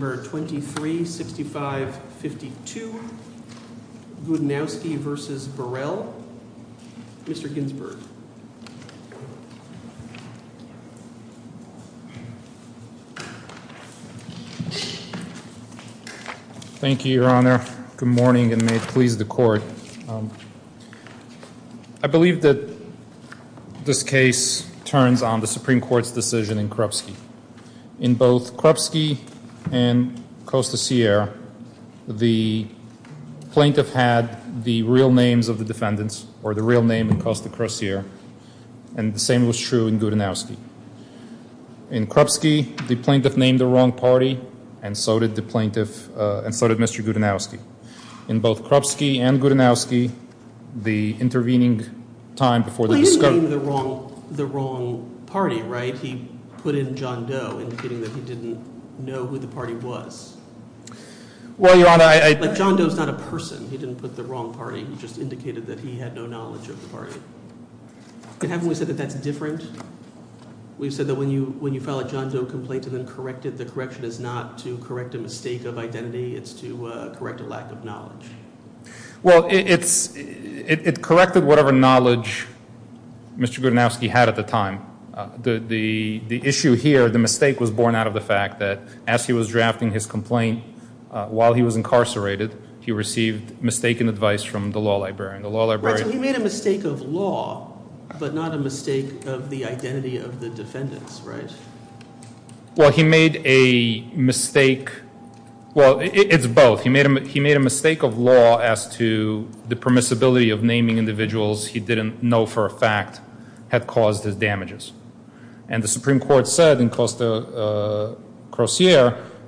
23-65-52 Gudanowski v. Burrell, N.Y. State Troope Thank you, Your Honor. Good morning and may it please the Court. I believe that this case turns on the Supreme Court's decision in Krupski. In both Krupski and Costa Sierra, the plaintiff had the real names of the defendants or the real name in Costa Sierra and the same was true in Gudanowski. In Krupski, the plaintiff named the wrong party and so did the plaintiff and so did Mr. Gudanowski. In both Krupski and Gudanowski, the intervening time before Well, he didn't name the wrong party, right? He put in John Doe, indicating that he didn't know who the party was. Well, Your Honor, I... But John Doe's not a person. He didn't put the wrong party. He just indicated that he had no knowledge of the party. And haven't we said that that's different? We've said that when you file a John Doe complaint and then correct it, the correction is not to correct a mistake of identity. It's to correct a lack of knowledge. Well, it corrected whatever knowledge Mr. Gudanowski had at the time. The issue here, the mistake was born out of the fact that as he was drafting his complaint, while he was incarcerated, he received mistaken advice from the law librarian. Right, so he made a mistake of law, but not a mistake of the identity of the defendants, right? Well, he made a mistake... Well, it's both. He made a mistake of law as to the permissibility of naming individuals he didn't know for a fact had caused his damages. And the Supreme Court said in Closier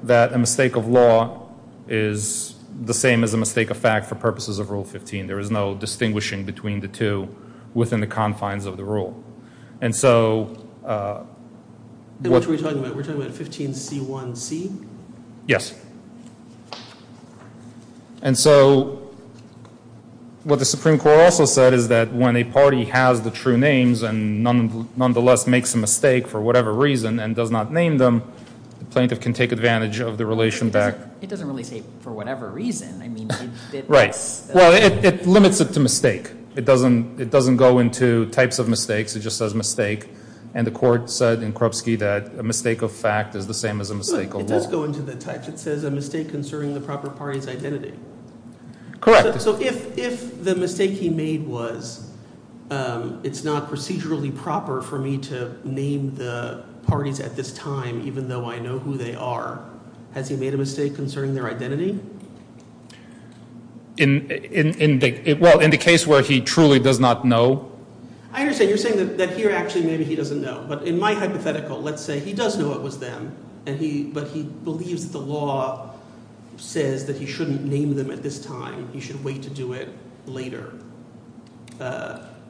that a mistake of law is the same as a mistake of fact for purposes of Rule 15. There is no distinguishing between the two within the confines of the rule. And so... We're talking about 15C1C? Yes. And so what the Supreme Court also said is that when a party has the true names and nonetheless makes a mistake for whatever reason and does not name them, the plaintiff can take advantage of the relation back... It doesn't really say for whatever reason. I mean... Right. Well, it limits it to mistake. It doesn't go into types of mistakes. It just says mistake. And the court said in Krupski that a mistake of fact is the same as a mistake of law. It does go into the types. It says a mistake concerning the proper party's identity. Correct. So if the mistake he made was, it's not procedurally proper for me to name the parties at this time even though I know who they are, has he made a mistake concerning their identity? In the case where he truly does not know? I understand. You're saying that here actually maybe he doesn't know. But in my hypothetical, let's say he does know it was them, but he believes the law says that he shouldn't name them at this time. He should wait to do it later.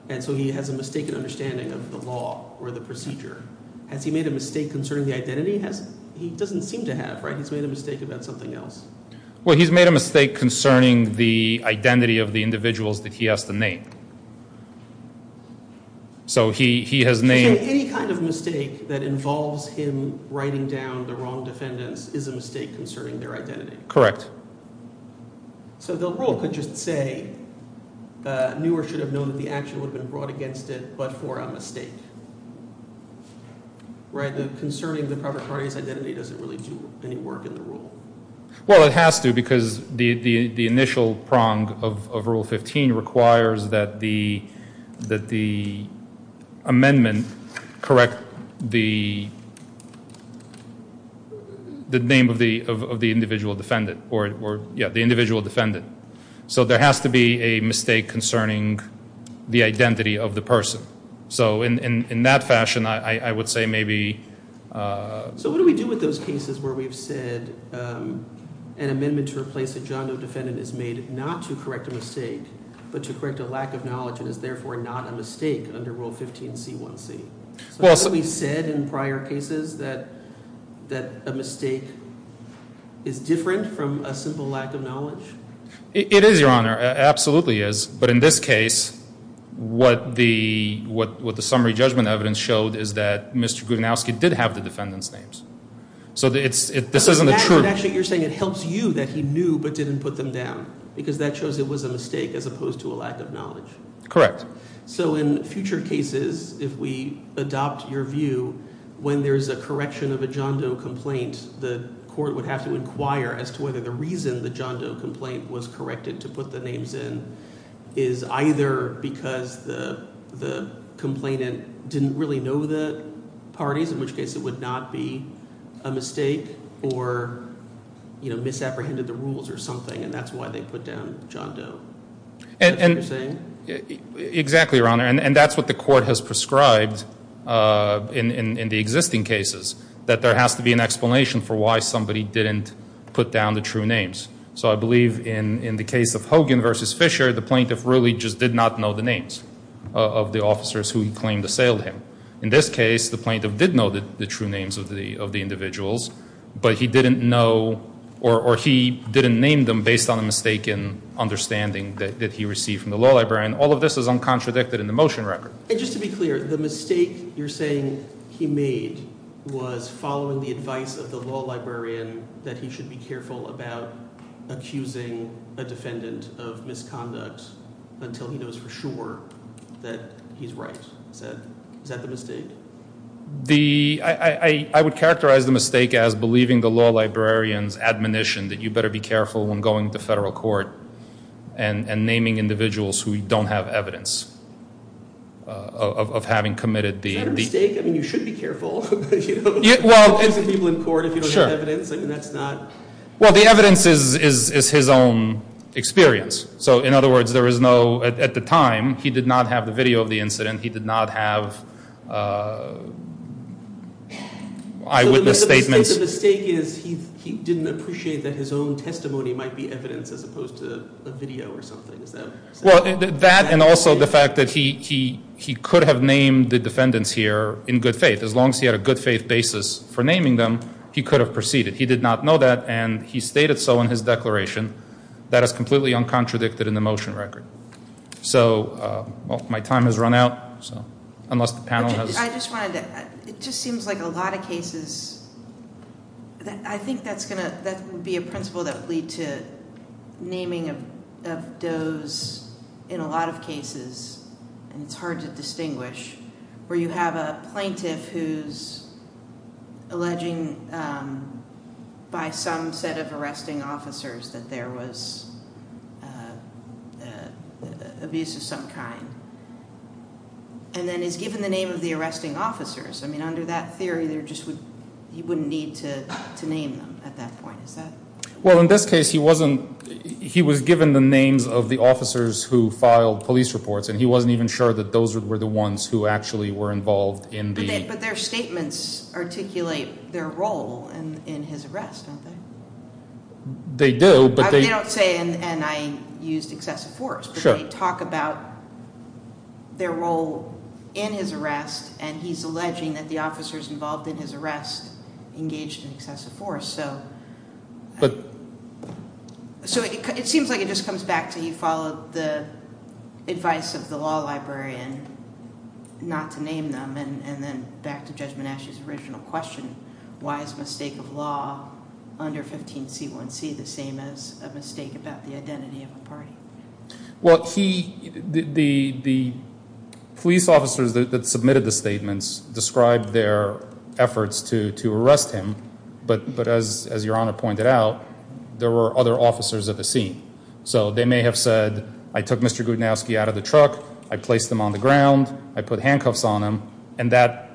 And so he has a mistaken understanding of the law or the procedure. Has he made a mistake concerning the identity? He doesn't seem to have. He's made a mistake about something else. Well, he's made a mistake concerning the identity of the individuals that he has to name. So he has named... So any kind of mistake that involves him writing down the wrong defendants is a mistake concerning their identity. Correct. So the rule could just say, knew or should have known that the action would have been brought against it, but for a mistake. Right. Concerning the private party's identity doesn't really do any work in the rule. Well, it has to because the initial prong of Rule 15 requires that the amendment correct the name of the individual defendant. Yeah, the individual defendant. So there has to be a mistake concerning the identity of the person. So in that fashion, I would say maybe... So what do we do with those cases where we've said an amendment to replace a John Doe defendant is made not to correct a mistake, but to correct a lack of knowledge and is therefore not a mistake under Rule 15C1C? So have we said in prior cases that a mistake is different from a simple lack of knowledge? It is, Your Honor. Absolutely is. But in this case, what the summary judgment evidence showed is that Mr. Grudnowski did have the defendant's names. So this isn't a true... Actually, you're saying it helps you that he knew but didn't put them down because that shows it was a mistake as opposed to a lack of knowledge. Correct. So in future cases, if we adopt your view, when there's a correction of a John Doe complaint, the court would have to inquire as to whether the reason the John Doe complaint was corrected to put the names in is either because the complainant didn't really know the parties, in which case it would not be a mistake or misapprehended the rules or something, and that's why they put down John Doe. That's what you're saying? Exactly, Your Honor. And that's what the court has prescribed in the existing cases, that there has to be an explanation for why somebody didn't put down the true names. So I believe in the case of Hogan v. Fisher, the plaintiff really just did not know the names of the officers who he claimed assailed him. In this case, the plaintiff did know the true names of the individuals, but he didn't know or he didn't name them based on a mistaken understanding that he received from the law librarian. All of this is uncontradicted in the motion record. And just to be clear, the mistake you're saying he made was following the advice of the law librarian that he should be careful about accusing a defendant of misconduct until he knows for sure that he's right. Is that the mistake? I would characterize the mistake as believing the law librarian's admonition that you better be careful when going to federal court and naming individuals who don't have evidence of having committed the... Is that the mistake? I mean, you should be careful. You don't accuse people in court if you don't have evidence. Well, the evidence is his own experience. So in other words, at the time, he did not have the video of the incident. He did not have eyewitness statements. So the mistake is he didn't appreciate that his own testimony might be evidence as opposed to a video or something. Well, that and also the fact that he could have named the defendants here in good faith. As long as he had a good faith basis for naming them, he could have proceeded. He did not know that, and he stated so in his declaration. That is completely uncontradicted in the motion record. So my time has run out, so unless the panel has... I just wanted to... It just seems like a lot of cases... I think that would be a principle that would lead to naming of those in a lot of cases, and it's hard to distinguish, where you have a plaintiff who's alleging by some set of arresting officers that there was abuse of some kind, and then is given the name of the arresting officers. Under that theory, he wouldn't need to name them at that point. Well, in this case, he was given the names of the officers who filed police reports, and he wasn't even sure that those were the ones who actually were involved in the... But their statements articulate their role in his arrest, don't they? They do, but they... They don't say, and I used excessive force, but they talk about their role in his arrest, and he's alleging that the officers involved in his arrest engaged in excessive force. But... So it seems like it just comes back to he followed the advice of the law librarian not to name them, and then back to Judge Monash's original question, why is mistake of law under 15C1C the same as a mistake about the identity of a party? Well, he... The police officers that submitted the statements described their efforts to arrest him, but as Your Honor pointed out, there were other officers at the scene. So they may have said, I took Mr. Gudanowski out of the truck, I placed him on the ground, I put handcuffs on him, and that,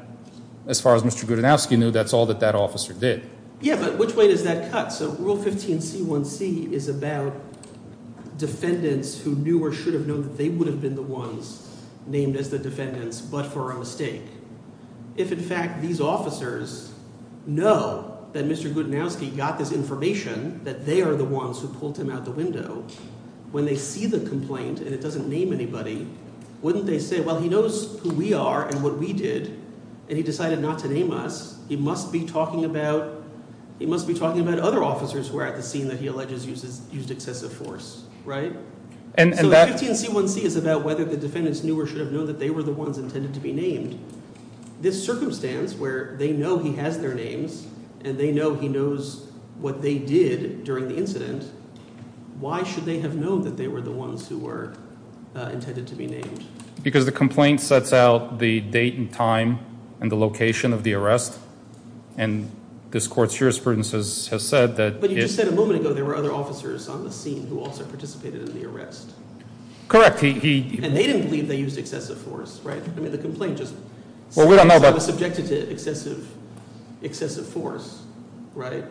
as far as Mr. Gudanowski knew, that's all that that officer did. Yeah, but which way does that cut? So Rule 15C1C is about defendants who knew or should have known that they would have been the ones named as the defendants, but for a mistake. If, in fact, these officers know that Mr. Gudanowski got this information, that they are the ones who pulled him out the window, when they see the complaint and it doesn't name anybody, wouldn't they say, well, he knows who we are and what we did, and he decided not to name us, he must be talking about... officers who are at the scene that he alleges used excessive force, right? So 15C1C is about whether the defendants knew or should have known that they were the ones intended to be named. This circumstance where they know he has their names, and they know he knows what they did during the incident, why should they have known that they were the ones who were intended to be named? Because the complaint sets out the date and time and the location of the arrest, and this court's jurisprudence has said that... But you just said a moment ago there were other officers on the scene who also participated in the arrest. Correct, he... And they didn't believe they used excessive force, right? I mean, the complaint just... Well, we don't know about... ...says he was subjected to excessive force, right?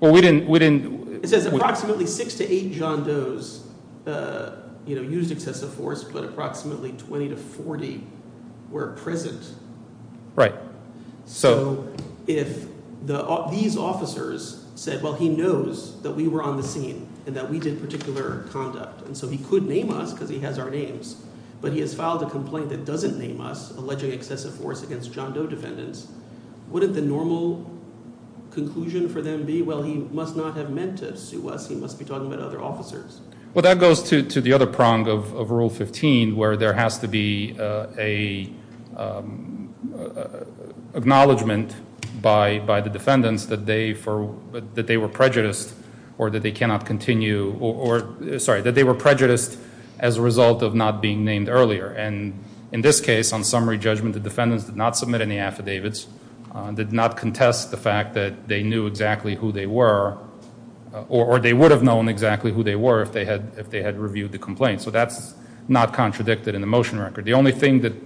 Well, we didn't... It says approximately 6 to 8 John Doe's used excessive force, but approximately 20 to 40 were present. Right. So if these officers said, well, he knows that we were on the scene and that we did particular conduct, and so he could name us because he has our names, but he has filed a complaint that doesn't name us, alleging excessive force against John Doe defendants, wouldn't the normal conclusion for them be, well, he must not have meant to sue us, he must be talking about other officers? Well, that goes to the other prong of Rule 15, where there has to be an acknowledgment by the defendants that they were prejudiced as a result of not being named earlier. And in this case, on summary judgment, the defendants did not submit any affidavits, did not contest the fact that they knew exactly who they were, or they would have known exactly who they were if they had reviewed the complaint. So that's not contradicted in the motion record.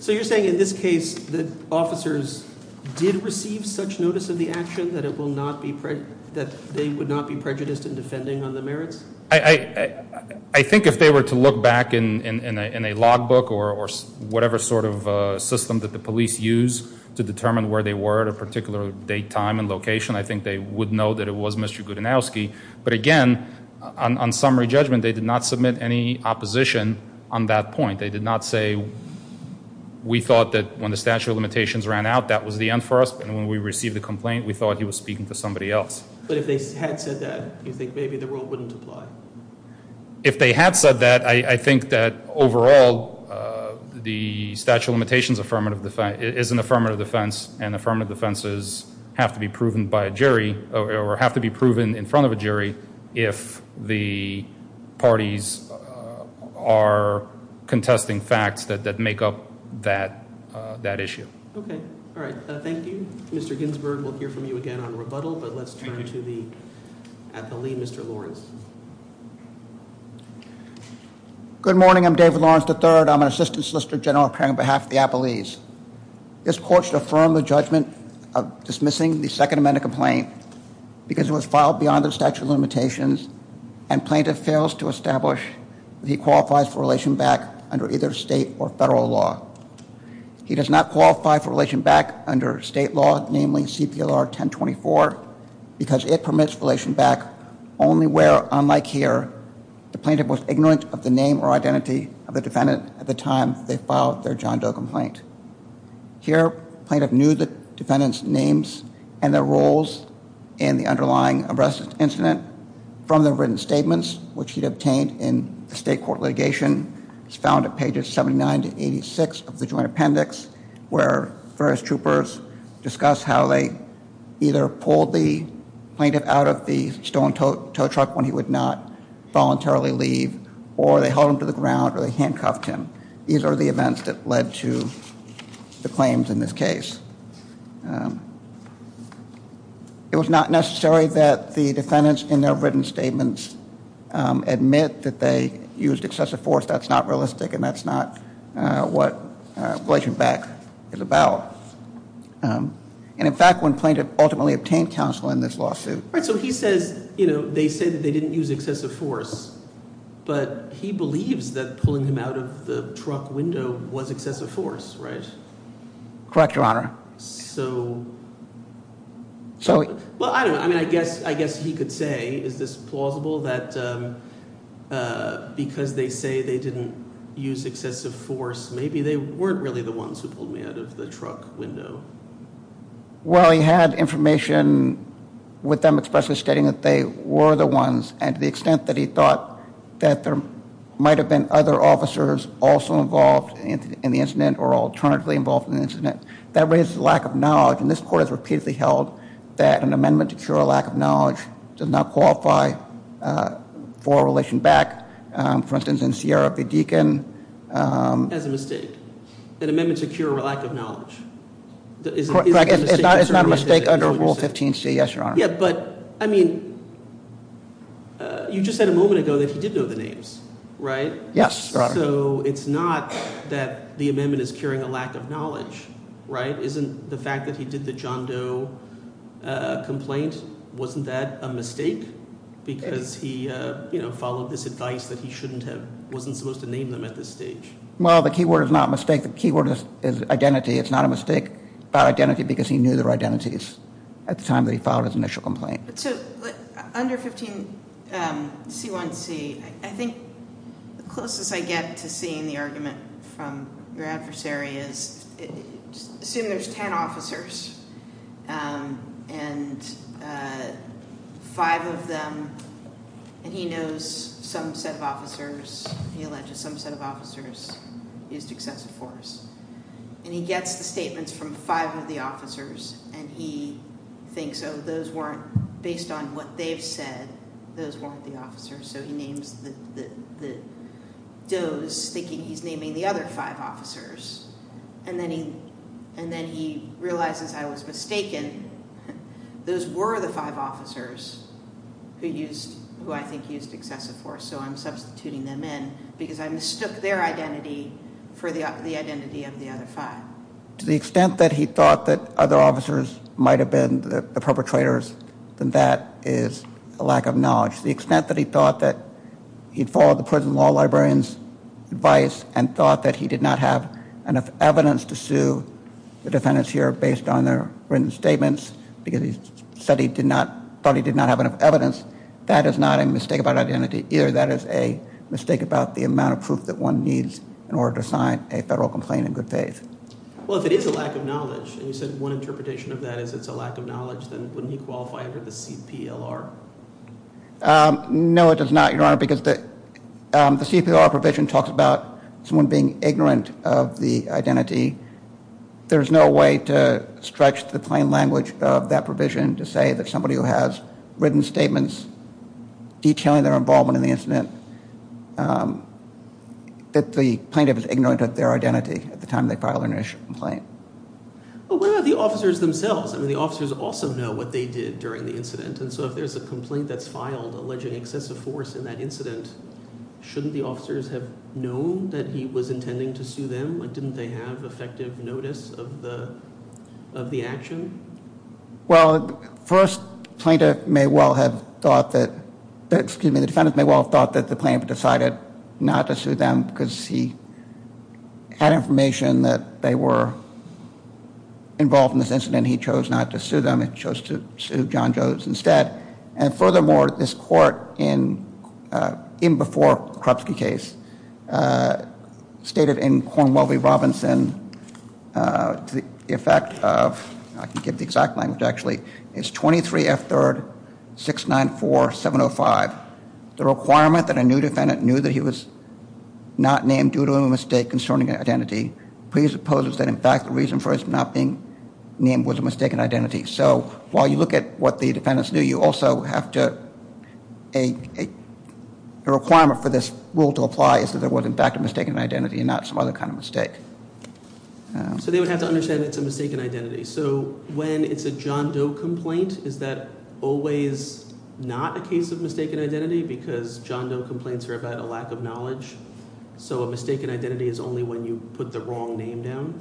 So you're saying in this case that officers did receive such notice of the action that they would not be prejudiced in defending on the merits? I think if they were to look back in a logbook or whatever sort of system that the police use to determine where they were at a particular date, time, and location, I think they would know that it was Mr. Gudanowski. But again, on summary judgment, they did not submit any opposition on that point. They did not say, we thought that when the statute of limitations ran out, that was the end for us, and when we received the complaint, we thought he was speaking for somebody else. But if they had said that, do you think maybe the rule wouldn't apply? If they had said that, I think that overall, the statute of limitations is an affirmative defense, and affirmative defenses have to be proven by a jury, or have to be proven in front of a jury, if the parties are contesting facts that make up that issue. Okay. All right. Thank you. Mr. Ginsburg, we'll hear from you again on rebuttal, but let's turn to the appellee, Mr. Lawrence. Good morning. I'm David Lawrence III. I'm an assistant solicitor general appearing on behalf of the appellees. This court should affirm the judgment of dismissing the Second Amendment complaint because it was filed beyond the statute of limitations, and plaintiff fails to establish that he qualifies for relation back under either state or federal law. He does not qualify for relation back under state law, namely CPLR 1024, because it permits relation back only where, unlike here, the plaintiff was ignorant of the name or identity of the defendant at the time they filed their John Doe complaint. Here, the plaintiff knew the defendant's names and their roles in the underlying arrest incident from their written statements, which he obtained in the state court litigation. It's found at pages 79 to 86 of the joint appendix, where various troopers discuss how they either pulled the plaintiff out of the stolen tow truck when he would not voluntarily leave, or they held him to the ground, or they handcuffed him. These are the events that led to the claims in this case. It was not necessary that the defendants in their written statements admit that they used excessive force. That's not realistic, and that's not what relation back is about. And in fact, when plaintiff ultimately obtained counsel in this lawsuit... Right, so he says, you know, they say that they didn't use excessive force, but he believes that pulling him out of the truck window was excessive force, right? Correct, Your Honor. So... Well, I don't know. I mean, I guess he could say, is this plausible, that because they say they didn't use excessive force, maybe they weren't really the ones who pulled me out of the truck window? Well, he had information with them expressly stating that they were the ones, and to the extent that he thought that there might have been other officers also involved in the incident, or alternatively involved in the incident, that raises a lack of knowledge, and this Court has repeatedly held that an amendment to cure a lack of knowledge does not qualify for relation back. For instance, in Sierra v. Deacon... That's a mistake. An amendment to cure a lack of knowledge. Correct, it's not a mistake under Rule 15c, yes, Your Honor. Yeah, but, I mean, you just said a moment ago that he did know the names, right? Yes, Your Honor. So it's not that the amendment is curing a lack of knowledge, right? Isn't the fact that he did the John Doe complaint, wasn't that a mistake? Because he, you know, followed this advice that he shouldn't have, wasn't supposed to name them at this stage. Well, the key word is not mistake. The key word is identity. It's not a mistake about identity because he knew their identities at the time that he filed his initial complaint. So, under 15c1c, I think the closest I get to seeing the argument from your adversary is, assume there's ten officers, and five of them, and he knows some set of officers, he alleges some set of officers used excessive force, and he gets the statements from five of the officers, and he thinks, oh, those weren't, based on what they've said, those weren't the officers, so he names the Doe's, thinking he's naming the other five officers. And then he realizes I was mistaken. Those were the five officers who I think used excessive force, so I'm substituting them in because I mistook their identity for the identity of the other five. To the extent that he thought that other officers might have been the perpetrators, then that is a lack of knowledge. To the extent that he thought that he'd followed the prison law librarian's advice and thought that he did not have enough evidence to sue the defendants here based on their written statements, because he said he did not, thought he did not have enough evidence, that is not a mistake about identity, either that is a mistake about the amount of proof that one needs in order to sign a federal complaint in good faith. Well, if it is a lack of knowledge, and you said one interpretation of that is it's a lack of knowledge, then wouldn't he qualify under the CPLR? No, it does not, Your Honor, because the CPLR provision talks about someone being ignorant of the identity. There's no way to stretch the plain language of that provision to say that somebody who has written statements detailing their involvement in the incident, that the plaintiff is ignorant of their identity at the time they file their initial complaint. But what about the officers themselves? I mean, the officers also know what they did during the incident, and so if there's a complaint that's filed alleging excessive force in that incident, shouldn't the officers have known that he was intending to sue them? Didn't they have effective notice of the action? Well, first, the defendant may well have thought that the plaintiff decided not to sue them because he had information that they were involved in this incident. He chose not to sue them. He chose to sue John Jones instead. And furthermore, this court, even before the Krupsky case, stated in Cornwell v. Robinson, the effect of, I can't get the exact language, actually, is 23F3-694-705. The requirement that a new defendant knew that he was not named due to a mistake concerning an identity presupposes that, in fact, the reason for his not being named was a mistaken identity. So while you look at what the defendants knew, you also have to, a requirement for this rule to apply is that there was, in fact, a mistaken identity and not some other kind of mistake. So they would have to understand it's a mistaken identity. So when it's a John Doe complaint, is that always not a case of mistaken identity because John Doe complaints are about a lack of knowledge? So a mistaken identity is only when you put the wrong name down?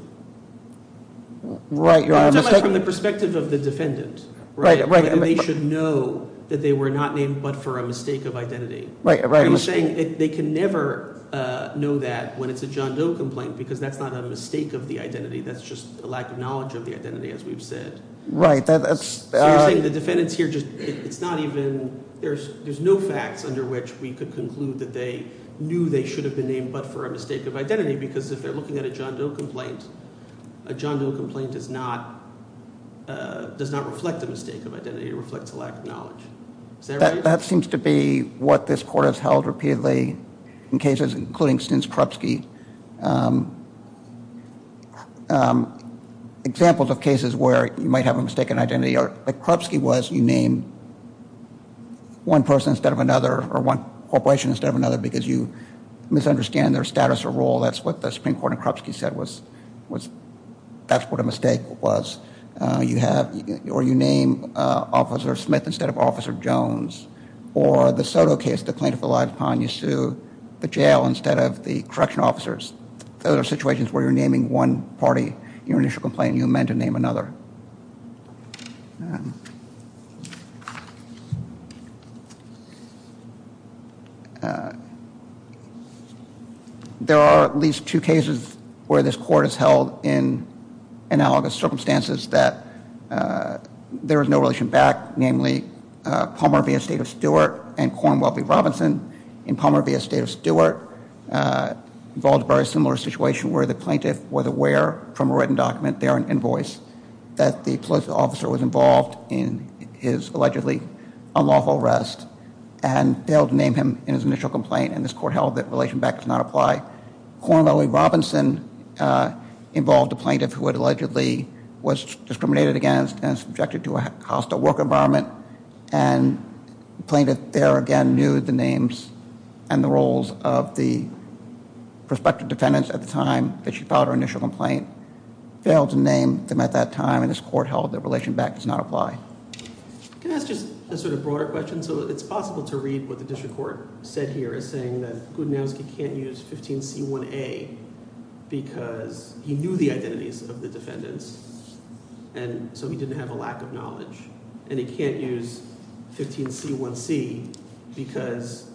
Right. From the perspective of the defendant. Right. They should know that they were not named but for a mistake of identity. Right. They can never know that when it's a John Doe complaint because that's not a mistake of the identity. That's just a lack of knowledge of the identity, as we've said. Right. So you're saying the defendants here just, it's not even, there's no facts under which we could conclude that they knew they should have been named but for a mistake of identity because if they're looking at a John Doe complaint, a John Doe complaint does not reflect a mistake of identity, it reflects a lack of knowledge. Is that right? That seems to be what this court has held repeatedly in cases including Stenskrupski. Examples of cases where you might have a mistaken identity or Krupski was, you name one person instead of another or one corporation instead of another because you misunderstand their status or role, that's what the Supreme Court in Krupski said was, that's what a mistake was. You have, or you name Officer Smith instead of Officer Jones or the Soto case, the plaintiff relied upon, you sue the jail instead of the correctional officer Those are situations where you're naming one party in your initial complaint and you amend to name another. There are at least two cases where this court has held in analogous circumstances that there is no relation back, namely Palmer v. Estate of Stewart and Cornwell v. Robinson. Palmer v. Estate of Stewart involves a very similar situation where the plaintiff was aware from a written document there, an invoice, that the police officer was involved in his allegedly unlawful arrest and failed to name him in his initial complaint and this court held that relation back does not apply. Cornwell v. Robinson involved a plaintiff who allegedly was discriminated against and subjected to a hostile work environment and the plaintiff there again knew the names and the roles of the prospective defendants at the time that she filed her initial complaint failed to name them at that time and this court held that relation back does not apply. Can I ask just a sort of broader question? So it's possible to read what the district court said here as saying that Gudanowski can't use 15C1A because he knew the identities of the defendants and so he didn't have a lack of knowledge and he can't use 15C1C because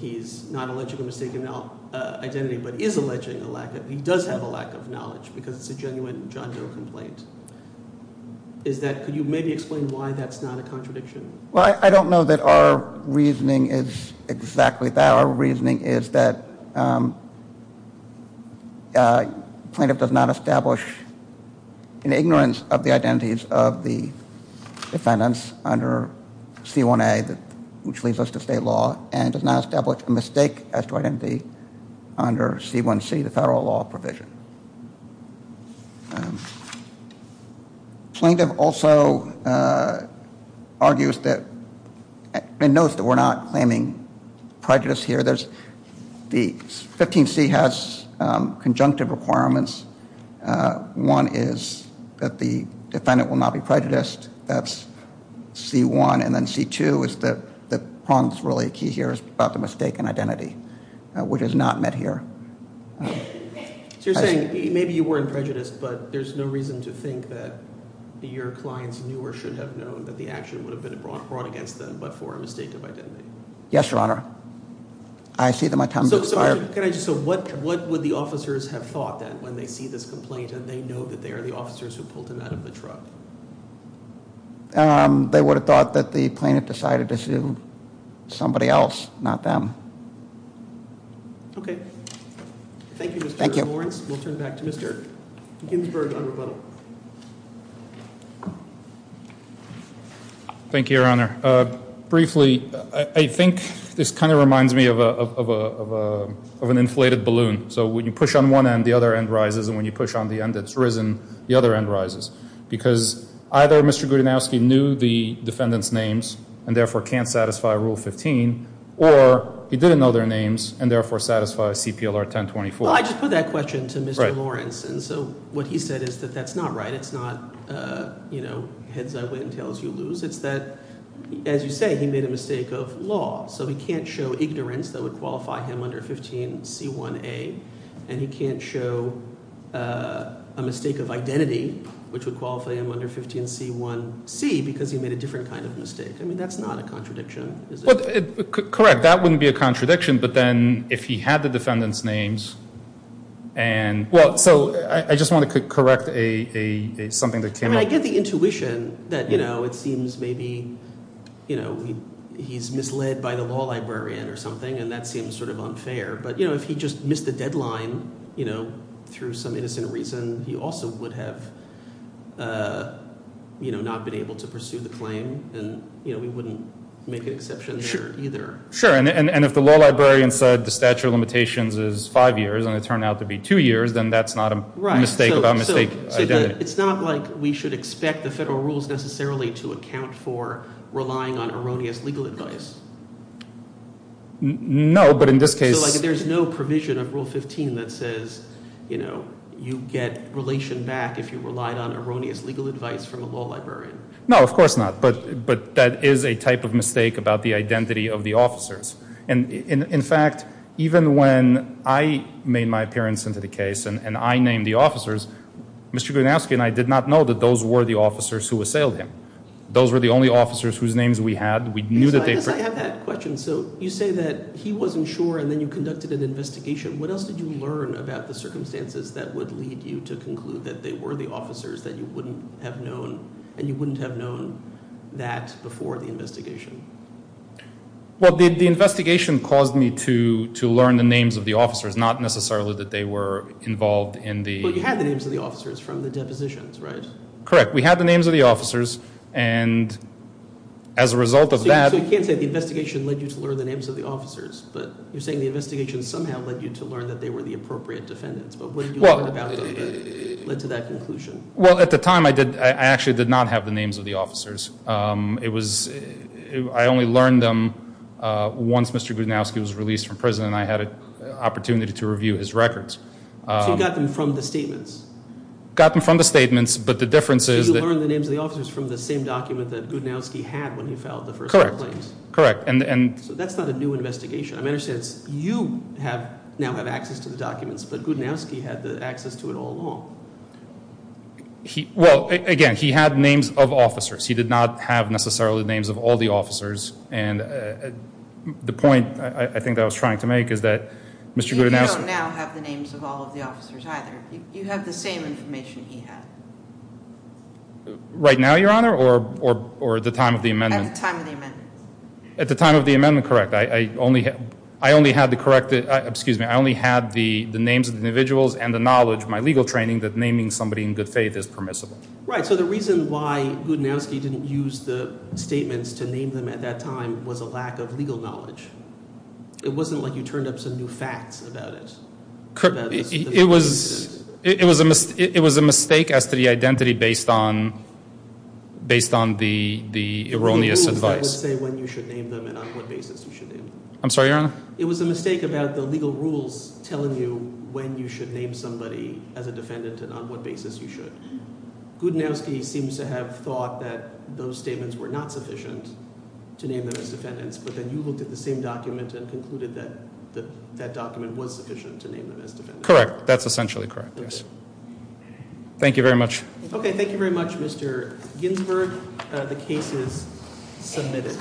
he's not alleging a mistaken identity but is alleging a lack he does have a lack of knowledge because it's a genuine John Doe complaint. Is that, could you maybe explain why that's not a contradiction? Well I don't know that our reasoning is exactly that our reasoning is that plaintiff does not establish an ignorance of the identities of the defendants under C1A which leads us to state law and does not establish a mistake as to identity under C1C the federal law provision. Plaintiff also argues that and knows that we're not claiming prejudice here 15C has conjunctive requirements one is that the defendant will not be prejudiced that's C1 and then C2 the problem's really key here is about the mistaken identity which is not met here So you're saying maybe you weren't prejudiced but there's no reason to think that your clients knew or should have known that the action would have been brought against them but for a mistake of identity? Yes Your Honor. So what would the officers have thought then when they see this complaint and they know that they are the officers who pulled him out of the truck? They would have thought that the plaintiff decided to sue somebody else, not them. Okay. Thank you Mr. Lawrence. We'll turn it back to Mr. Ginsburg on rebuttal. Thank you Your Honor. Briefly, I think this kind of reminds me of an inflated balloon so when you push on one end the other end rises and when you push on the end that's risen the other end rises because either Mr. Gudanowski knew the defendant's names and therefore can't satisfy Rule 15 or he didn't know their names and therefore satisfies CPLR 1024. Well I just put that question to Mr. Lawrence and so what he said is that that's not right, it's not heads I win, tails you lose, it's that as you say, he made a mistake of law so he can't show ignorance that would qualify him under 15C1A and he can't show a mistake of identity which would qualify him under 15C1C because he made a different kind of mistake I mean that's not a contradiction, is it? Correct, that wouldn't be a contradiction but then if he had the defendant's names I just want to correct something that came up I get the intuition that it seems maybe he's misled by the law librarian or something and that seems sort of unfair but if he just missed the deadline through some innocent reason he also would have not been able to pursue the claim and we wouldn't make an exception there either Sure, and if the law librarian said the statute of limitations is 5 years and it turned out to be 2 years then that's not a mistake about mistake identity It's not like we should expect the federal rules necessarily to account for relying on erroneous legal advice No, but in this case There's no provision of Rule 15 that says you get relation back if you relied on erroneous legal advice from a law librarian No, of course not, but that is a type of mistake about the identity of the officers In fact, even when I made my appearance into the case and I named the officers Mr. Grunowski and I did not know that those were the officers who assailed him Those were the only officers whose names we had I guess I have that question, so you say that he wasn't sure and then you conducted an investigation, what else did you learn about the circumstances that would lead you to conclude that they were the officers that you wouldn't have known and you wouldn't have known that before the investigation Well, the investigation caused me to learn the names of the officers, not necessarily that they were involved in the... But you had the names of the officers from the depositions, right? Correct, we had the names of the officers and as a result of that So you can't say the investigation led you to learn the names of the officers but you're saying the investigation somehow led you to learn that they were the appropriate defendants, but what did you learn about them that led to that conclusion? Well, at the time I actually did not have the names of the officers I only learned them once Mr. Grunowski was released from prison and I had an opportunity to review his records So you got them from the statements? Got them from the statements, but the difference is... So you learned the names of the officers from the same document that Grunowski had when he filed the first two claims? Correct So that's not a new investigation? I understand you now have access to the documents but Grunowski had access to it all along Well, again, he had names of officers he did not have necessarily the names of all the officers and the point I think I was trying to make is that Mr. Grunowski... You don't now have the names of all the officers either you have the same information he had Right now, Your Honor? Or at the time of the amendment? At the time of the amendment At the time of the amendment, correct I only had the names of the individuals and the knowledge, my legal training, that naming somebody in good faith is permissible Right, so the reason why Grunowski didn't use the statements to name them at that time was a lack of legal knowledge It wasn't like you turned up some new facts about it It was a mistake as to the identity based on the erroneous advice I'm sorry, Your Honor? It was a mistake about the legal rules telling you when you should name somebody as a defendant and on what basis you should. Grunowski seems to have thought that those statements were not sufficient to name them as defendants, but then you looked at the same document and concluded that that document was sufficient to name them as defendants. Correct, that's essentially correct Thank you very much Mr. Ginsberg, the case is submitted